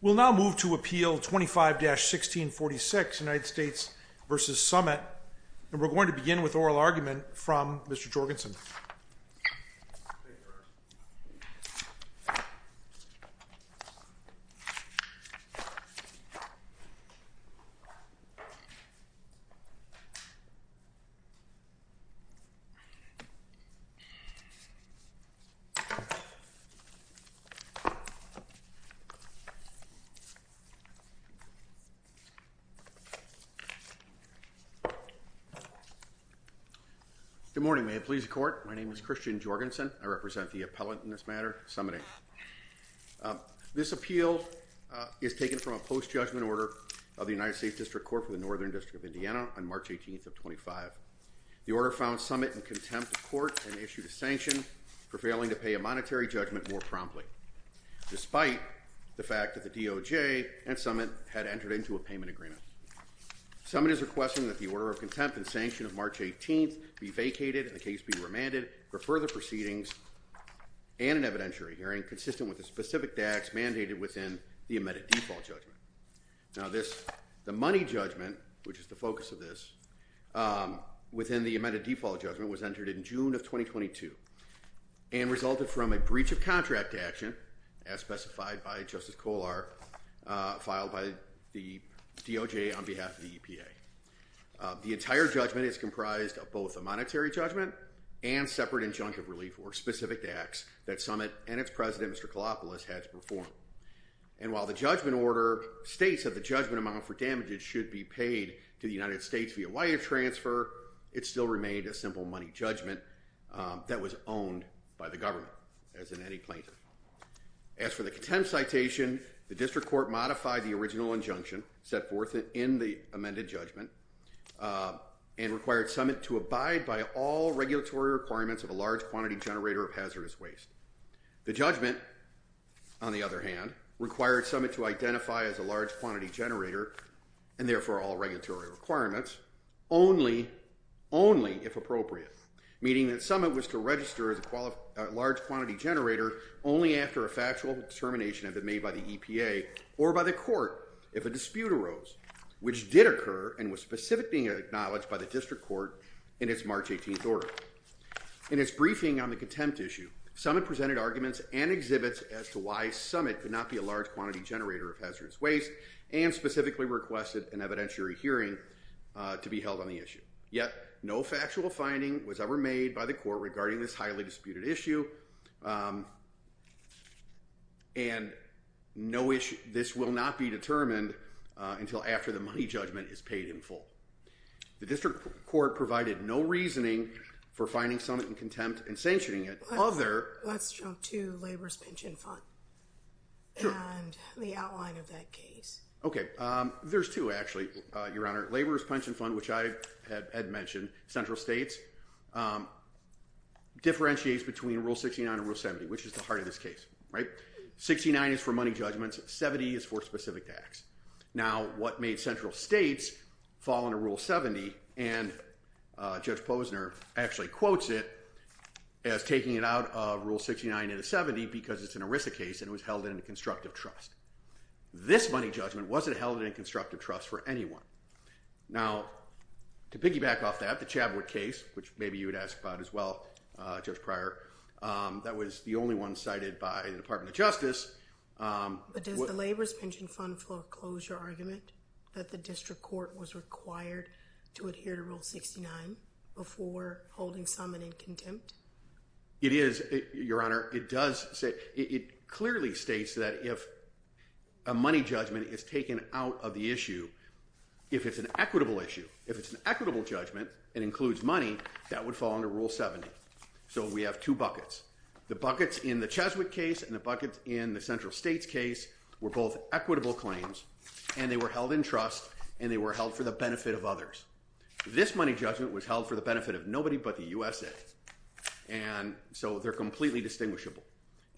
We'll now move to Appeal 25-1646, United States v. Summit, and we're going to begin with oral argument from Mr. Jorgensen. Good morning. May it please the Court. My name is Christian Jorgensen. I represent the appellant in this matter, Summit, Inc. This appeal is taken from a post-judgment order of the United States District Court for the Northern District of Indiana on March 18th of 25. The order found Summit in contempt of court and issued a sanction for failing to pay a monetary judgment more promptly. Despite the fact that the DOJ and Summit had entered into a payment agreement. Summit is requesting that the order of contempt and sanction of March 18th be vacated and the case be remanded for further proceedings and an evidentiary hearing consistent with the specific DAX mandated within the amended default judgment. Now this, the money judgment, which is the focus of this, within the amended default judgment was entered in June of 2022 and resulted from a breach of contract action, as specified by Justice Kohler, filed by the DOJ on behalf of the EPA. The entire judgment is comprised of both a monetary judgment and separate injunctive relief for specific DAX that Summit and its president, Mr. Kalopoulos, had to perform. And while the judgment order states that the judgment amount for damages should be paid to the United States via wire transfer, it still remained a simple money judgment that was owned by the government, as in any plaintiff. As for the contempt citation, the District Court modified the original injunction set forth in the amended judgment and required Summit to abide by all regulatory requirements of a large quantity generator of hazardous waste. The judgment, on the other hand, required Summit to identify as a large quantity generator, and therefore all regulatory requirements, only if appropriate, meaning that Summit was to register as a large quantity generator only after a factual determination had been made by the EPA or by the court if a dispute arose, which did occur and was specifically acknowledged by the District Court in its March 18th order. In its briefing on the contempt issue, Summit presented arguments and exhibits as to why Summit could not be a large quantity generator of hazardous waste and specifically requested an evidentiary hearing to be held on the issue. Yet, no factual finding was ever made by the court regarding this highly disputed issue, and this will not be determined until after the money judgment is paid in full. The District Court provided no reasoning for finding Summit in contempt and sanctioning it, other… Let's jump to Labor's Pension Fund and the outline of that case. Okay. There's two, actually, Your Honor. Labor's Pension Fund, which I had mentioned, central states, differentiates between Rule 69 and Rule 70, which is the heart of this case, right? 69 is for money judgments, 70 is for specific tax. Now, what made central states fall under Rule 70, and Judge Posner actually quotes it as taking it out of Rule 69 and 70 because it's an ERISA case and it was held in a constructive trust. This money judgment wasn't held in a constructive trust for anyone. Now, to piggyback off that, the Chadwood case, which maybe you would ask about as well, Judge Pryor, that was the only one cited by the Department of Justice. But does the Labor's Pension Fund foreclose your argument that the District Court was required to adhere to Rule 69 before holding Summit in contempt? It is, Your Honor. It does say… It clearly states that if a money judgment is taken out of the issue, if it's an equitable issue, if it's an equitable judgment and includes money, that would fall under Rule 70. So we have two buckets. The buckets in the Cheswick case and the buckets in the central states case were both equitable claims, and they were held in trust, and they were held for the benefit of others. This money judgment was held for the benefit of nobody but the USA, and so they're completely distinguishable.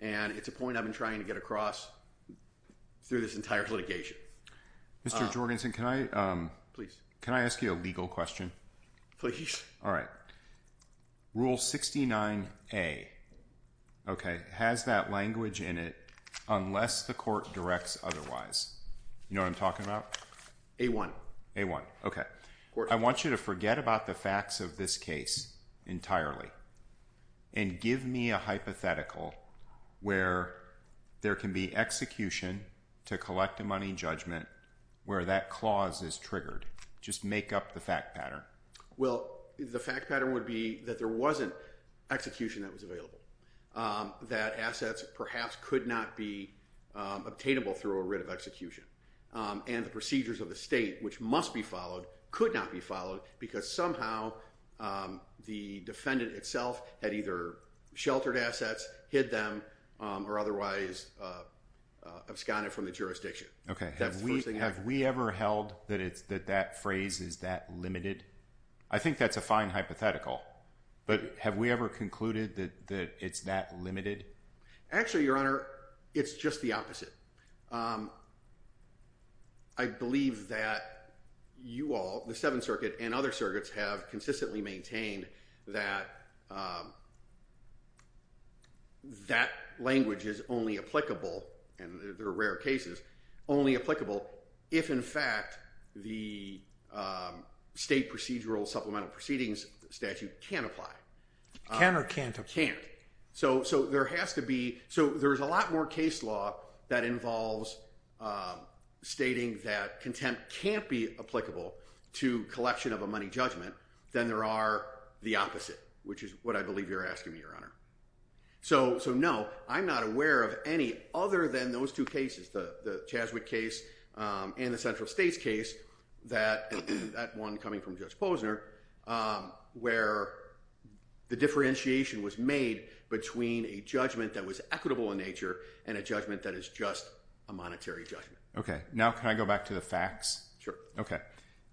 And it's a point I've been trying to get across through this entire litigation. Mr. Jorgensen, can I… Please. Can I ask you a legal question? Please. All right. Rule 69A, okay, has that language in it unless the court directs otherwise. You know what I'm talking about? A-1. A-1, okay. I want you to forget about the facts of this case entirely and give me a hypothetical where there can be execution to collect a money judgment where that clause is triggered. Just make up the fact pattern. Well, the fact pattern would be that there wasn't execution that was available, that assets perhaps could not be obtainable through a writ of execution, and the procedures of the state, which must be followed, could not be followed because somehow the defendant itself had either sheltered assets, hid them, or otherwise absconded from the jurisdiction. Okay. That's the first thing. Have we ever held that that phrase is that limited? I think that's a fine hypothetical, but have we ever concluded that it's that limited? Actually, Your Honor, it's just the opposite. I believe that you all, the Seventh Circuit and other circuits, have consistently maintained that that language is only applicable, and there are rare cases, only applicable if, in fact, the state procedural supplemental proceedings statute can't apply. Can or can't apply? Can't. There's a lot more case law that involves stating that contempt can't be applicable to collection of a money judgment than there are the opposite, which is what I believe you're asking me, Your Honor. So no, I'm not aware of any other than those two cases, the Chazwick case and the Central States case, that one coming from Judge Posner, where the differentiation was made between a judgment that was equitable in nature and a judgment that is just a monetary judgment. Okay. Now can I go back to the facts? Sure. Okay.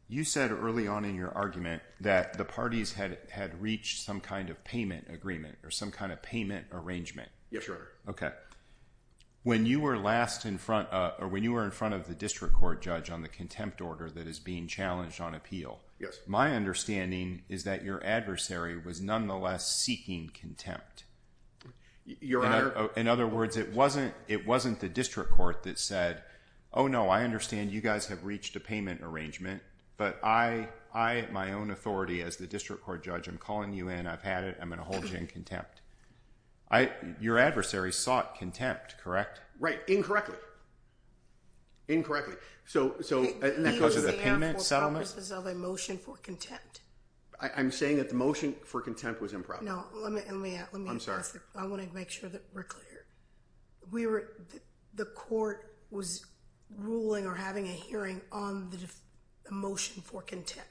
You said early on in your argument that the parties had reached some kind of payment agreement or some kind of payment arrangement. Yes, Your Honor. Okay. When you were last in front, or when you were in front of the district court judge on the contempt order that is being challenged on appeal, my understanding is that your adversary was nonetheless seeking contempt. Your Honor. In other words, it wasn't the district court that said, oh no, I understand you guys have reached a payment arrangement, but I, at my own authority as the district court judge, am calling you in. I've had it. I'm going to hold you in contempt. Your adversary sought contempt, correct? Right. Incorrectly. Incorrectly. Because of the payment settlement? It was there for purposes of a motion for contempt. I'm saying that the motion for contempt was improper. No. I'm sorry. I want to make sure that we're clear. We were, the court was ruling or having a hearing on the motion for contempt.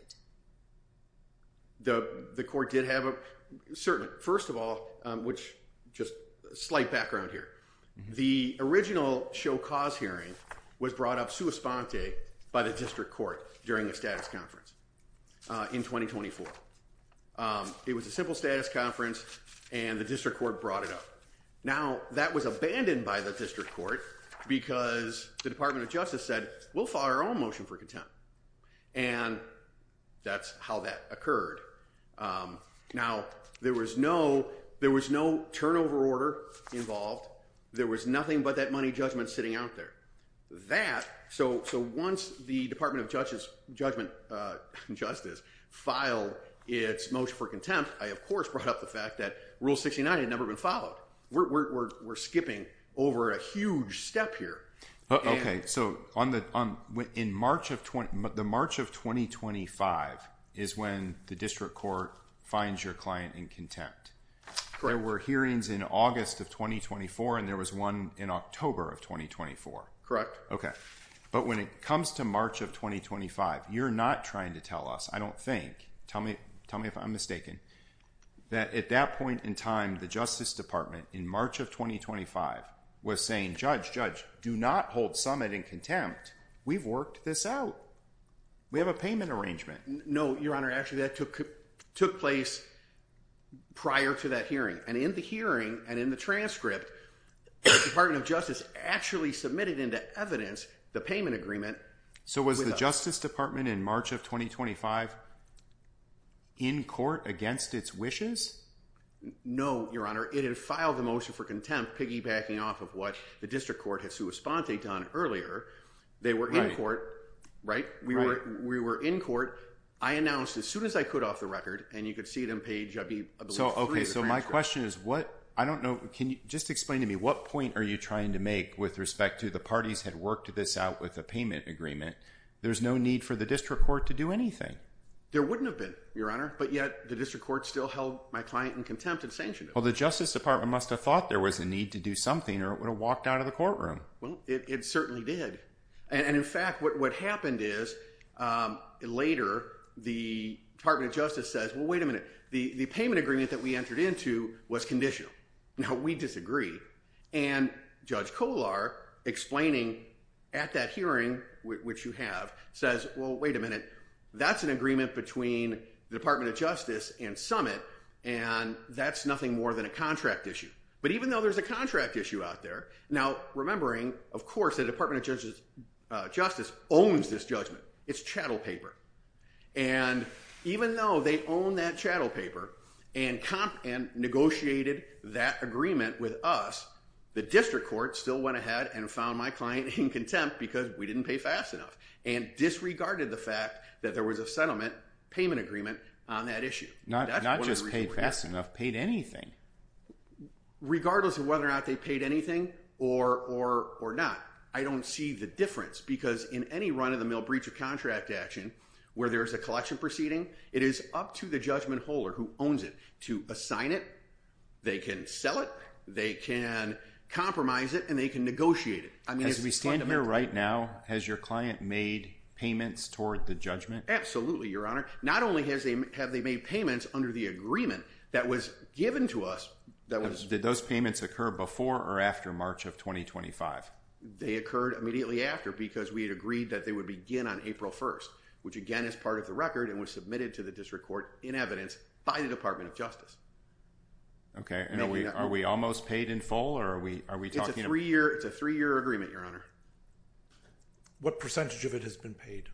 The court did have a, certainly. First of all, which, just slight background here. The original show cause hearing was brought up sua sponte by the district court during the status conference in 2024. It was a simple status conference, and the district court brought it up. Now, that was abandoned by the district court because the Department of Justice said, we'll file our own motion for contempt. And that's how that occurred. Now, there was no, there was no turnover order involved. There was nothing but that money judgment sitting out there. So, once the Department of Justice filed its motion for contempt, I, of course, brought up the fact that Rule 69 had never been followed. We're skipping over a huge step here. Okay. So, on the, in March of, the March of 2025 is when the district court finds your client in contempt. Correct. So, there were hearings in August of 2024, and there was one in October of 2024. Okay. But when it comes to March of 2025, you're not trying to tell us, I don't think. Tell me, tell me if I'm mistaken, that at that point in time, the Justice Department in March of 2025 was saying, judge, judge, do not hold Summit in contempt. We've worked this out. We have a payment arrangement. No, Your Honor. Actually, that took, took place prior to that hearing. And in the hearing and in the transcript, the Department of Justice actually submitted into evidence the payment agreement. So, was the Justice Department in March of 2025 in court against its wishes? No, Your Honor. It had filed the motion for contempt, piggybacking off of what the district court had sui sponte done earlier. They were in court. Right. We were in court. I announced as soon as I could off the record, and you could see it on page, I believe, three of the transcript. So, okay. So, my question is, what, I don't know, can you just explain to me, what point are you trying to make with respect to the parties had worked this out with a payment agreement? There's no need for the district court to do anything. There wouldn't have been, Your Honor. But yet, the district court still held my client in contempt and sanctioned him. Well, the Justice Department must have thought there was a need to do something, or it would have walked out of the courtroom. Well, it certainly did. And, in fact, what happened is, later, the Department of Justice says, well, wait a minute, the payment agreement that we entered into was conditional. Now, we disagree. And Judge Kolar, explaining at that hearing, which you have, says, well, wait a minute, that's an agreement between the Department of Justice and Summit, and that's nothing more than a contract issue. But even though there's a contract issue out there, now, remembering, of course, the Department of Justice owns this judgment. It's chattel paper. And even though they own that chattel paper and negotiated that agreement with us, the district court still went ahead and found my client in contempt because we didn't pay fast enough and disregarded the fact that there was a settlement payment agreement on that issue. Not just paid fast enough, paid anything. Regardless of whether or not they paid anything or not, I don't see the difference. Because in any run-of-the-mill breach-of-contract action where there's a collection proceeding, it is up to the judgment holder who owns it to assign it. They can sell it. They can compromise it. And they can negotiate it. As we stand here right now, has your client made payments toward the judgment? Absolutely, Your Honor. Not only have they made payments under the agreement that was given to us, that was— Did those payments occur before or after March of 2025? They occurred immediately after because we had agreed that they would begin on April 1st, which, again, is part of the record and was submitted to the district court in evidence by the Department of Justice. Okay. And are we almost paid in full, or are we talking— It's a three-year agreement, Your Honor. What percentage of it has been paid,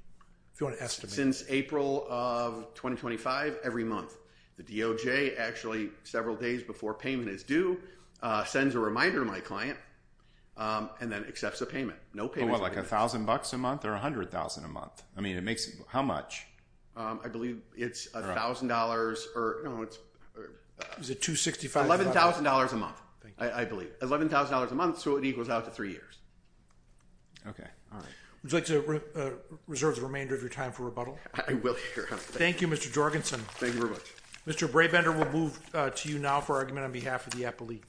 if you want to estimate? Since April of 2025, every month. The DOJ actually, several days before payment is due, sends a reminder to my client and then accepts the payment. What, like $1,000 a month or $100,000 a month? I mean, it makes—how much? I believe it's $1,000 or— Is it $265,000? $11,000 a month, I believe. $11,000 a month, so it equals out to three years. Okay. All right. Would you like to reserve the remainder of your time for rebuttal? I will, Your Honor. Thank you, Mr. Jorgensen. Thank you very much. Mr. Brabender will move to you now for argument on behalf of the appellee.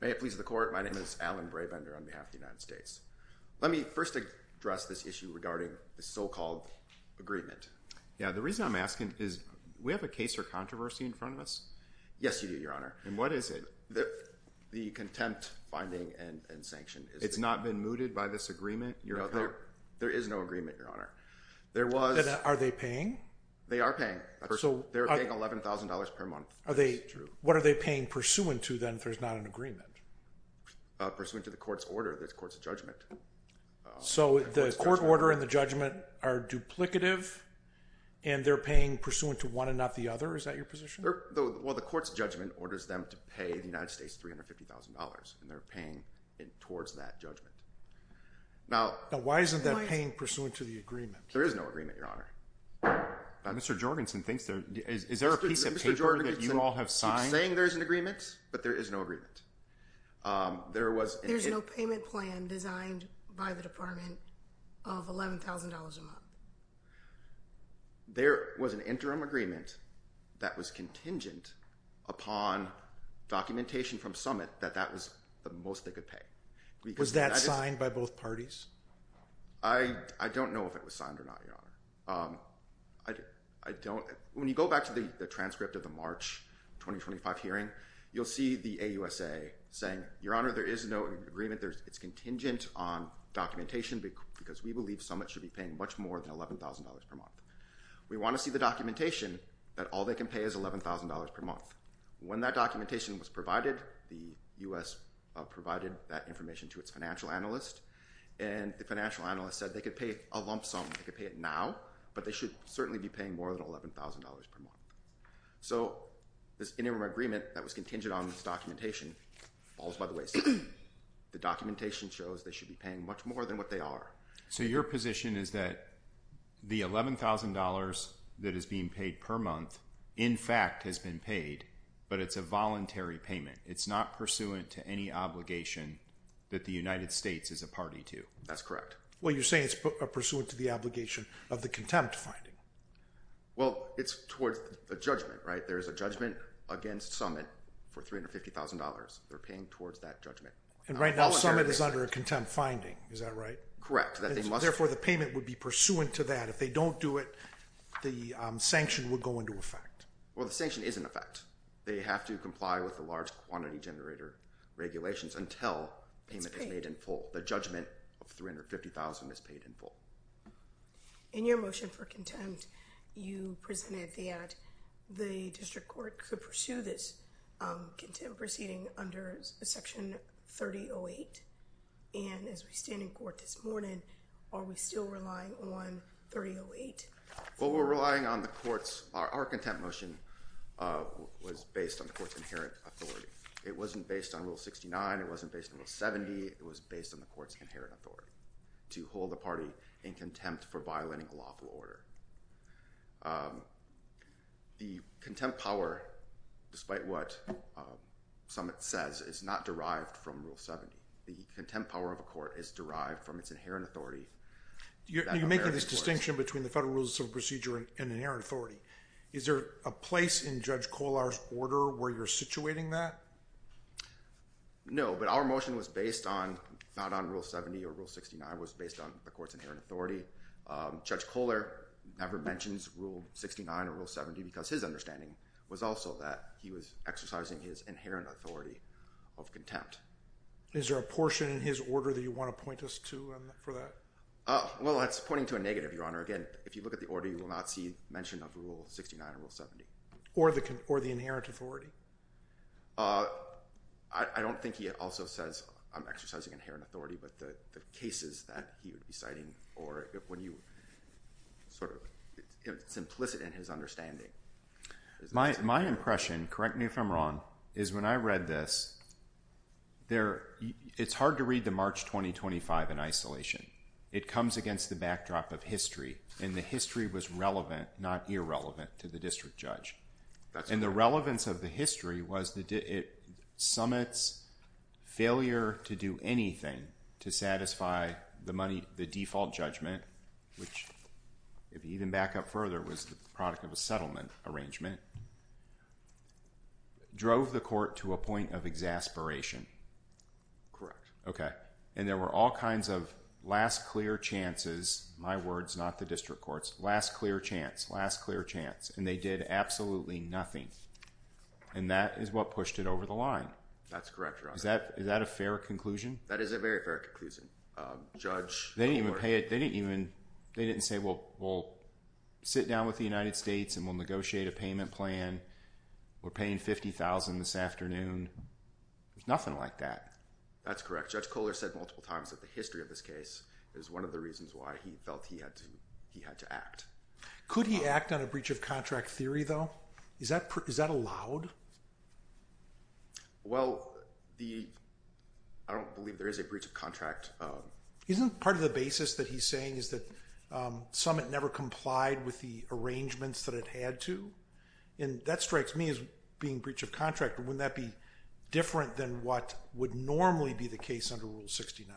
May it please the Court, my name is Alan Brabender on behalf of the United States. Let me first address this issue regarding the so-called agreement. Yeah, the reason I'm asking is, we have a case for controversy in front of us? Yes, you do, Your Honor. And what is it? The contempt finding and sanction. It's not been mooted by this agreement? No. There is no agreement, Your Honor. Are they paying? They are paying. They're paying $11,000 per month. What are they paying pursuant to, then, if there's not an agreement? Pursuant to the court's order, the court's judgment. So, the court order and the judgment are duplicative, and they're paying pursuant to one and not the other? Is that your position? Well, the court's judgment orders them to pay the United States $350,000, and they're paying towards that judgment. Now, why isn't that paying pursuant to the agreement? There is no agreement, Your Honor. Mr. Jorgensen thinks there is. Is there a piece of paper that you all have signed? I keep saying there's an agreement, but there is no agreement. There was an— There's no payment plan designed by the Department of $11,000 a month? There was an interim agreement that was contingent upon documentation from Summit that that was the most they could pay. Was that signed by both parties? I don't know if it was signed or not, Your Honor. I don't—when you go back to the transcript of the March 2025 hearing, you'll see the AUSA saying, Your Honor, there is no agreement. It's contingent on documentation because we believe Summit should be paying much more than $11,000 per month. We want to see the documentation that all they can pay is $11,000 per month. When that documentation was provided, the U.S. provided that information to its financial analyst, and the financial analyst said they could pay a lump sum. They could pay it now, but they should certainly be paying more than $11,000 per month. So this interim agreement that was contingent on this documentation falls by the wayside. The documentation shows they should be paying much more than what they are. So your position is that the $11,000 that is being paid per month, in fact, has been paid, but it's a voluntary payment. It's not pursuant to any obligation that the United States is a party to. That's correct. Well, you're saying it's pursuant to the obligation of the contempt finding. Well, it's towards a judgment, right? There is a judgment against Summit for $350,000. They're paying towards that judgment. And right now Summit is under a contempt finding. Is that right? Correct. Therefore, the payment would be pursuant to that. If they don't do it, the sanction would go into effect. Well, the sanction is in effect. They have to comply with the large quantity generator regulations until payment is made in full. The judgment of $350,000 is paid in full. In your motion for contempt, you presented that the district court could pursue this proceeding under Section 3008. And as we stand in court this morning, are we still relying on 3008? Well, we're relying on the court's—our contempt motion was based on the court's inherent authority. It wasn't based on Rule 69. It wasn't based on Rule 70. It was based on the court's inherent authority to hold a party in contempt for violating a lawful order. The contempt power, despite what Summit says, is not derived from Rule 70. The contempt power of a court is derived from its inherent authority. You're making this distinction between the federal rules of civil procedure and inherent authority. Is there a place in Judge Kollar's order where you're situating that? No, but our motion was based on—not on Rule 70 or Rule 69. It was based on the court's inherent authority. Judge Kollar never mentions Rule 69 or Rule 70 because his understanding was also that he was exercising his inherent authority of contempt. Is there a portion in his order that you want to point us to for that? Well, that's pointing to a negative, Your Honor. Again, if you look at the order, you will not see mention of Rule 69 or Rule 70. Or the inherent authority. I don't think he also says, I'm exercising inherent authority, but the cases that he would be citing or when you sort of—it's implicit in his understanding. My impression, correct me if I'm wrong, is when I read this, it's hard to read the March 2025 in isolation. It comes against the backdrop of history, and the history was relevant, not irrelevant, to the district judge. And the relevance of the history was that it summits failure to do anything to satisfy the money—the default judgment, which if you even back up further was the product of a settlement arrangement, drove the court to a point of exasperation. Correct. Okay. And there were all kinds of last clear chances—my words, not the district court's—last clear chance, last clear chance. And they did absolutely nothing. And that is what pushed it over the line. That's correct, Your Honor. Is that a fair conclusion? That is a very fair conclusion. Judge Kohler— They didn't even say, well, we'll sit down with the United States and we'll negotiate a payment plan. We're paying $50,000 this afternoon. There's nothing like that. That's correct. Judge Kohler said multiple times that the history of this case is one of the reasons why he felt he had to act. Could he act on a breach of contract theory, though? Is that allowed? Well, the—I don't believe there is a breach of contract. Isn't part of the basis that he's saying is that Summit never complied with the arrangements that it had to? And that strikes me as being breach of contract, but wouldn't that be different than what would normally be the case under Rule 69?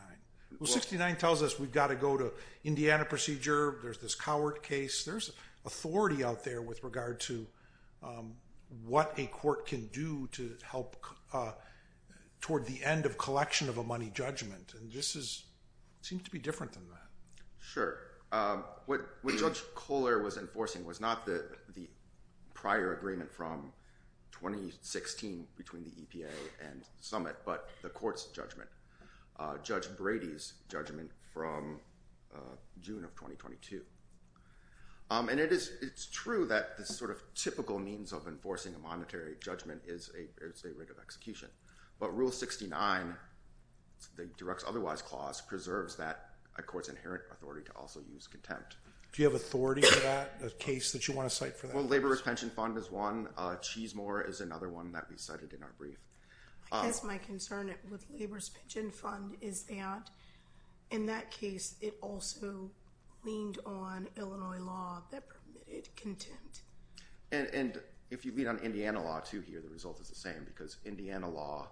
Well, 69 tells us we've got to go to Indiana procedure. There's this Cowart case. There's authority out there with regard to what a court can do to help toward the end of collection of a money judgment. And this seems to be different than that. Sure. What Judge Kohler was enforcing was not the prior agreement from 2016 between the EPA and Summit, but the court's judgment. Judge Brady's judgment from June of 2022. And it's true that the sort of typical means of enforcing a monetary judgment is a rate of execution. But Rule 69, the directs otherwise clause, preserves that court's inherent authority to also use contempt. Do you have authority for that, a case that you want to cite for that? Well, Laborers' Pension Fund is one. Cheesemore is another one that we cited in our brief. I guess my concern with Laborers' Pension Fund is that, in that case, it also leaned on Illinois law that permitted contempt. And if you lean on Indiana law, too, here, the result is the same. Because Indiana law,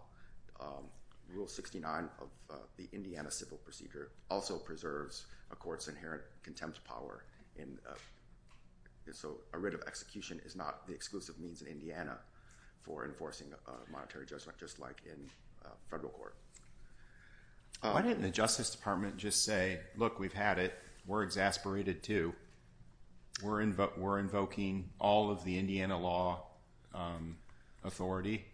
Rule 69 of the Indiana civil procedure, also preserves a court's inherent contempt power. So a rate of execution is not the exclusive means in Indiana for enforcing a monetary judgment, just like in federal court. Why didn't the Justice Department just say, look, we've had it. We're exasperated, too. We're invoking all of the Indiana law authority.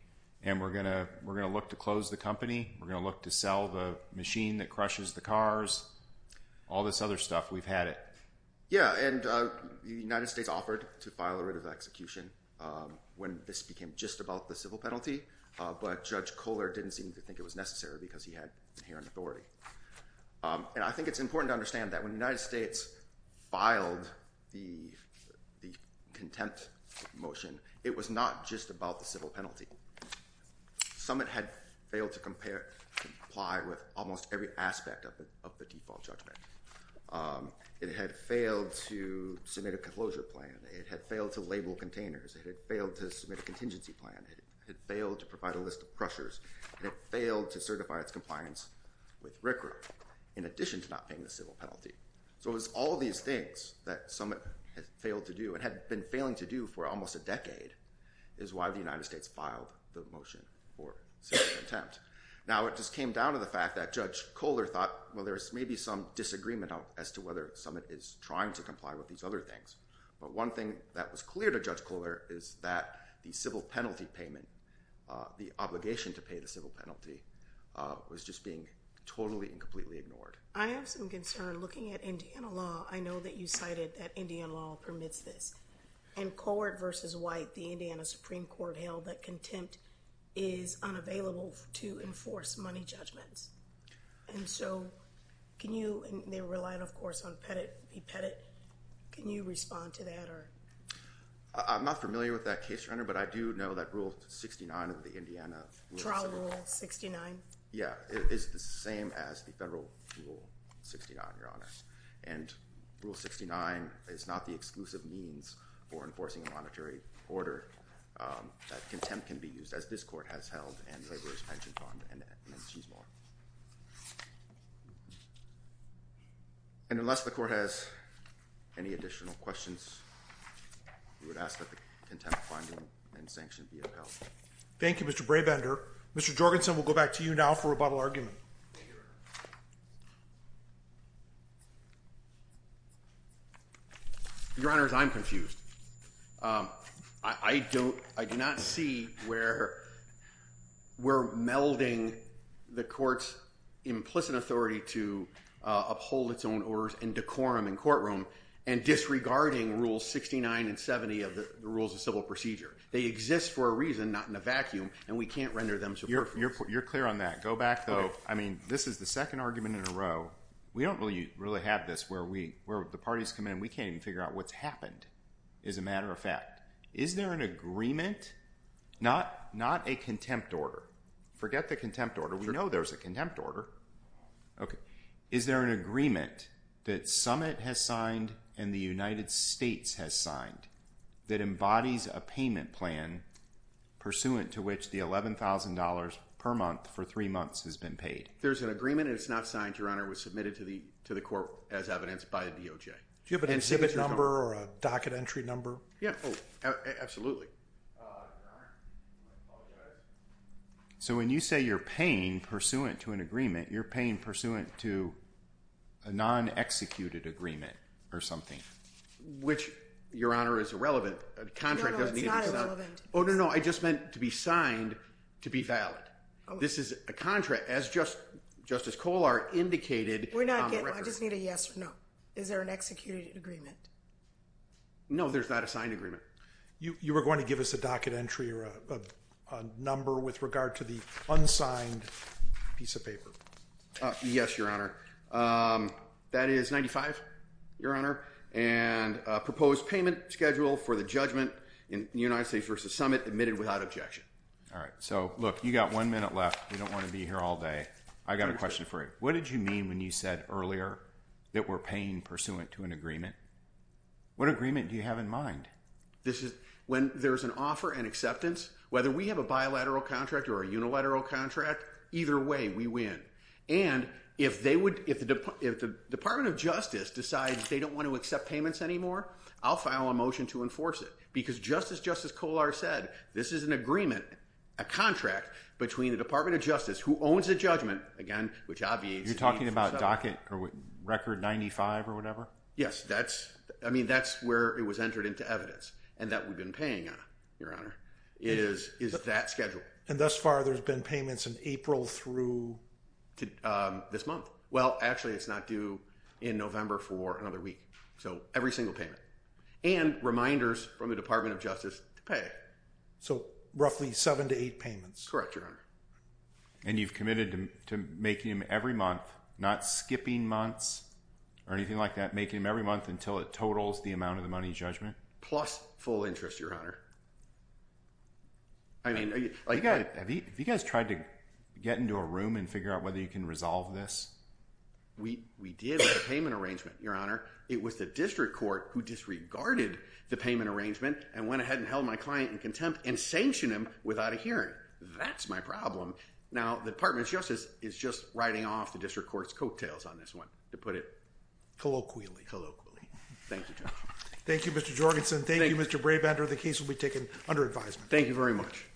And we're going to look to close the company. We're going to look to sell the machine that crushes the cars. All this other stuff. We've had it. Yeah, and the United States offered to file a rate of execution when this became just about the civil penalty. But Judge Kohler didn't seem to think it was necessary because he had inherent authority. And I think it's important to understand that when the United States filed the contempt motion, it was not just about the civil penalty. Some had failed to comply with almost every aspect of the default judgment. It had failed to submit a closure plan. It had failed to label containers. It had failed to submit a contingency plan. It had failed to provide a list of crushers. And it failed to certify its compliance with RCRA in addition to not paying the civil penalty. So it was all these things that some had failed to do and had been failing to do for almost a decade is why the United States filed the motion for civil contempt. Now, it just came down to the fact that Judge Kohler thought, well, there's maybe some disagreement as to whether Summit is trying to comply with these other things. But one thing that was clear to Judge Kohler is that the civil penalty payment, the obligation to pay the civil penalty, was just being totally and completely ignored. I have some concern looking at Indiana law. I know that you cited that Indiana law permits this. And Kohler v. White, the Indiana Supreme Court, held that contempt is unavailable to enforce money judgments. And so can you—and they relied, of course, on Pettit v. Pettit. Can you respond to that? I'm not familiar with that case, Your Honor, but I do know that Rule 69 of the Indiana— Trial Rule 69? Yeah. It's the same as the federal Rule 69, Your Honor. And Rule 69 is not the exclusive means for enforcing a monetary order. That contempt can be used, as this Court has held in the Laborers' Pension Fund and in Chisholm. And unless the Court has any additional questions, we would ask that the contempt finding and sanction be upheld. Thank you, Mr. Brabender. Mr. Jorgensen, we'll go back to you now for rebuttal argument. Thank you, Your Honor. Your Honor, I'm confused. I do not see where we're melding the Court's implicit authority to uphold its own orders in decorum in courtroom and disregarding Rules 69 and 70 of the Rules of Civil Procedure. They exist for a reason, not in a vacuum, and we can't render them superfluous. You're clear on that. Go back, though. I mean, this is the second argument in a row. We don't really have this where the parties come in and we can't even figure out what's happened. As a matter of fact, is there an agreement—not a contempt order. Forget the contempt order. We know there's a contempt order. Is there an agreement that Summit has signed and the United States has signed that embodies a payment plan pursuant to which the $11,000 per month for three months has been paid? There's an agreement, and it's not signed, Your Honor. It was submitted to the Court as evidence by the DOJ. Do you have an exhibit number or a docket entry number? Absolutely. Your Honor, I apologize. So when you say you're paying pursuant to an agreement, you're paying pursuant to a non-executed agreement or something. Which, Your Honor, is irrelevant. No, no, it's not irrelevant. Oh, no, no, I just meant to be signed to be valid. This is a contract, as Justice Kohler indicated on the record. We're not getting—I just need a yes or no. Is there an executed agreement? No, there's not a signed agreement. You were going to give us a docket entry or a number with regard to the unsigned piece of paper. Yes, Your Honor. That is 95, Your Honor, and a proposed payment schedule for the judgment in the United States v. Summit, admitted without objection. All right. So, look, you've got one minute left. We don't want to be here all day. I've got a question for you. What did you mean when you said earlier that we're paying pursuant to an agreement? What agreement do you have in mind? When there's an offer and acceptance, whether we have a bilateral contract or a unilateral contract, either way we win. And if the Department of Justice decides they don't want to accept payments anymore, I'll file a motion to enforce it. Because just as Justice Kohler said, this is an agreement, a contract, between the Department of Justice, who owns the judgment, again, which obviously— You're talking about docket or record 95 or whatever? Yes, that's—I mean, that's where it was entered into evidence and that we've been paying on, Your Honor, is that schedule. And thus far, there's been payments in April through— This month. Well, actually, it's not due in November for another week. So every single payment. And reminders from the Department of Justice to pay. So roughly seven to eight payments. Correct, Your Honor. And you've committed to making them every month, not skipping months or anything like that, making them every month until it totals the amount of the money in judgment? Plus full interest, Your Honor. I mean, have you guys tried to get into a room and figure out whether you can resolve this? We did with the payment arrangement, Your Honor. It was the district court who disregarded the payment arrangement and went ahead and held my client in contempt and sanctioned him without a hearing. That's my problem. Now, the Department of Justice is just writing off the district court's coattails on this one, to put it— Colloquially. Thank you, Judge. Thank you, Mr. Jorgensen. Thank you, Mr. Brabander. The case will be taken under advisement. Thank you very much.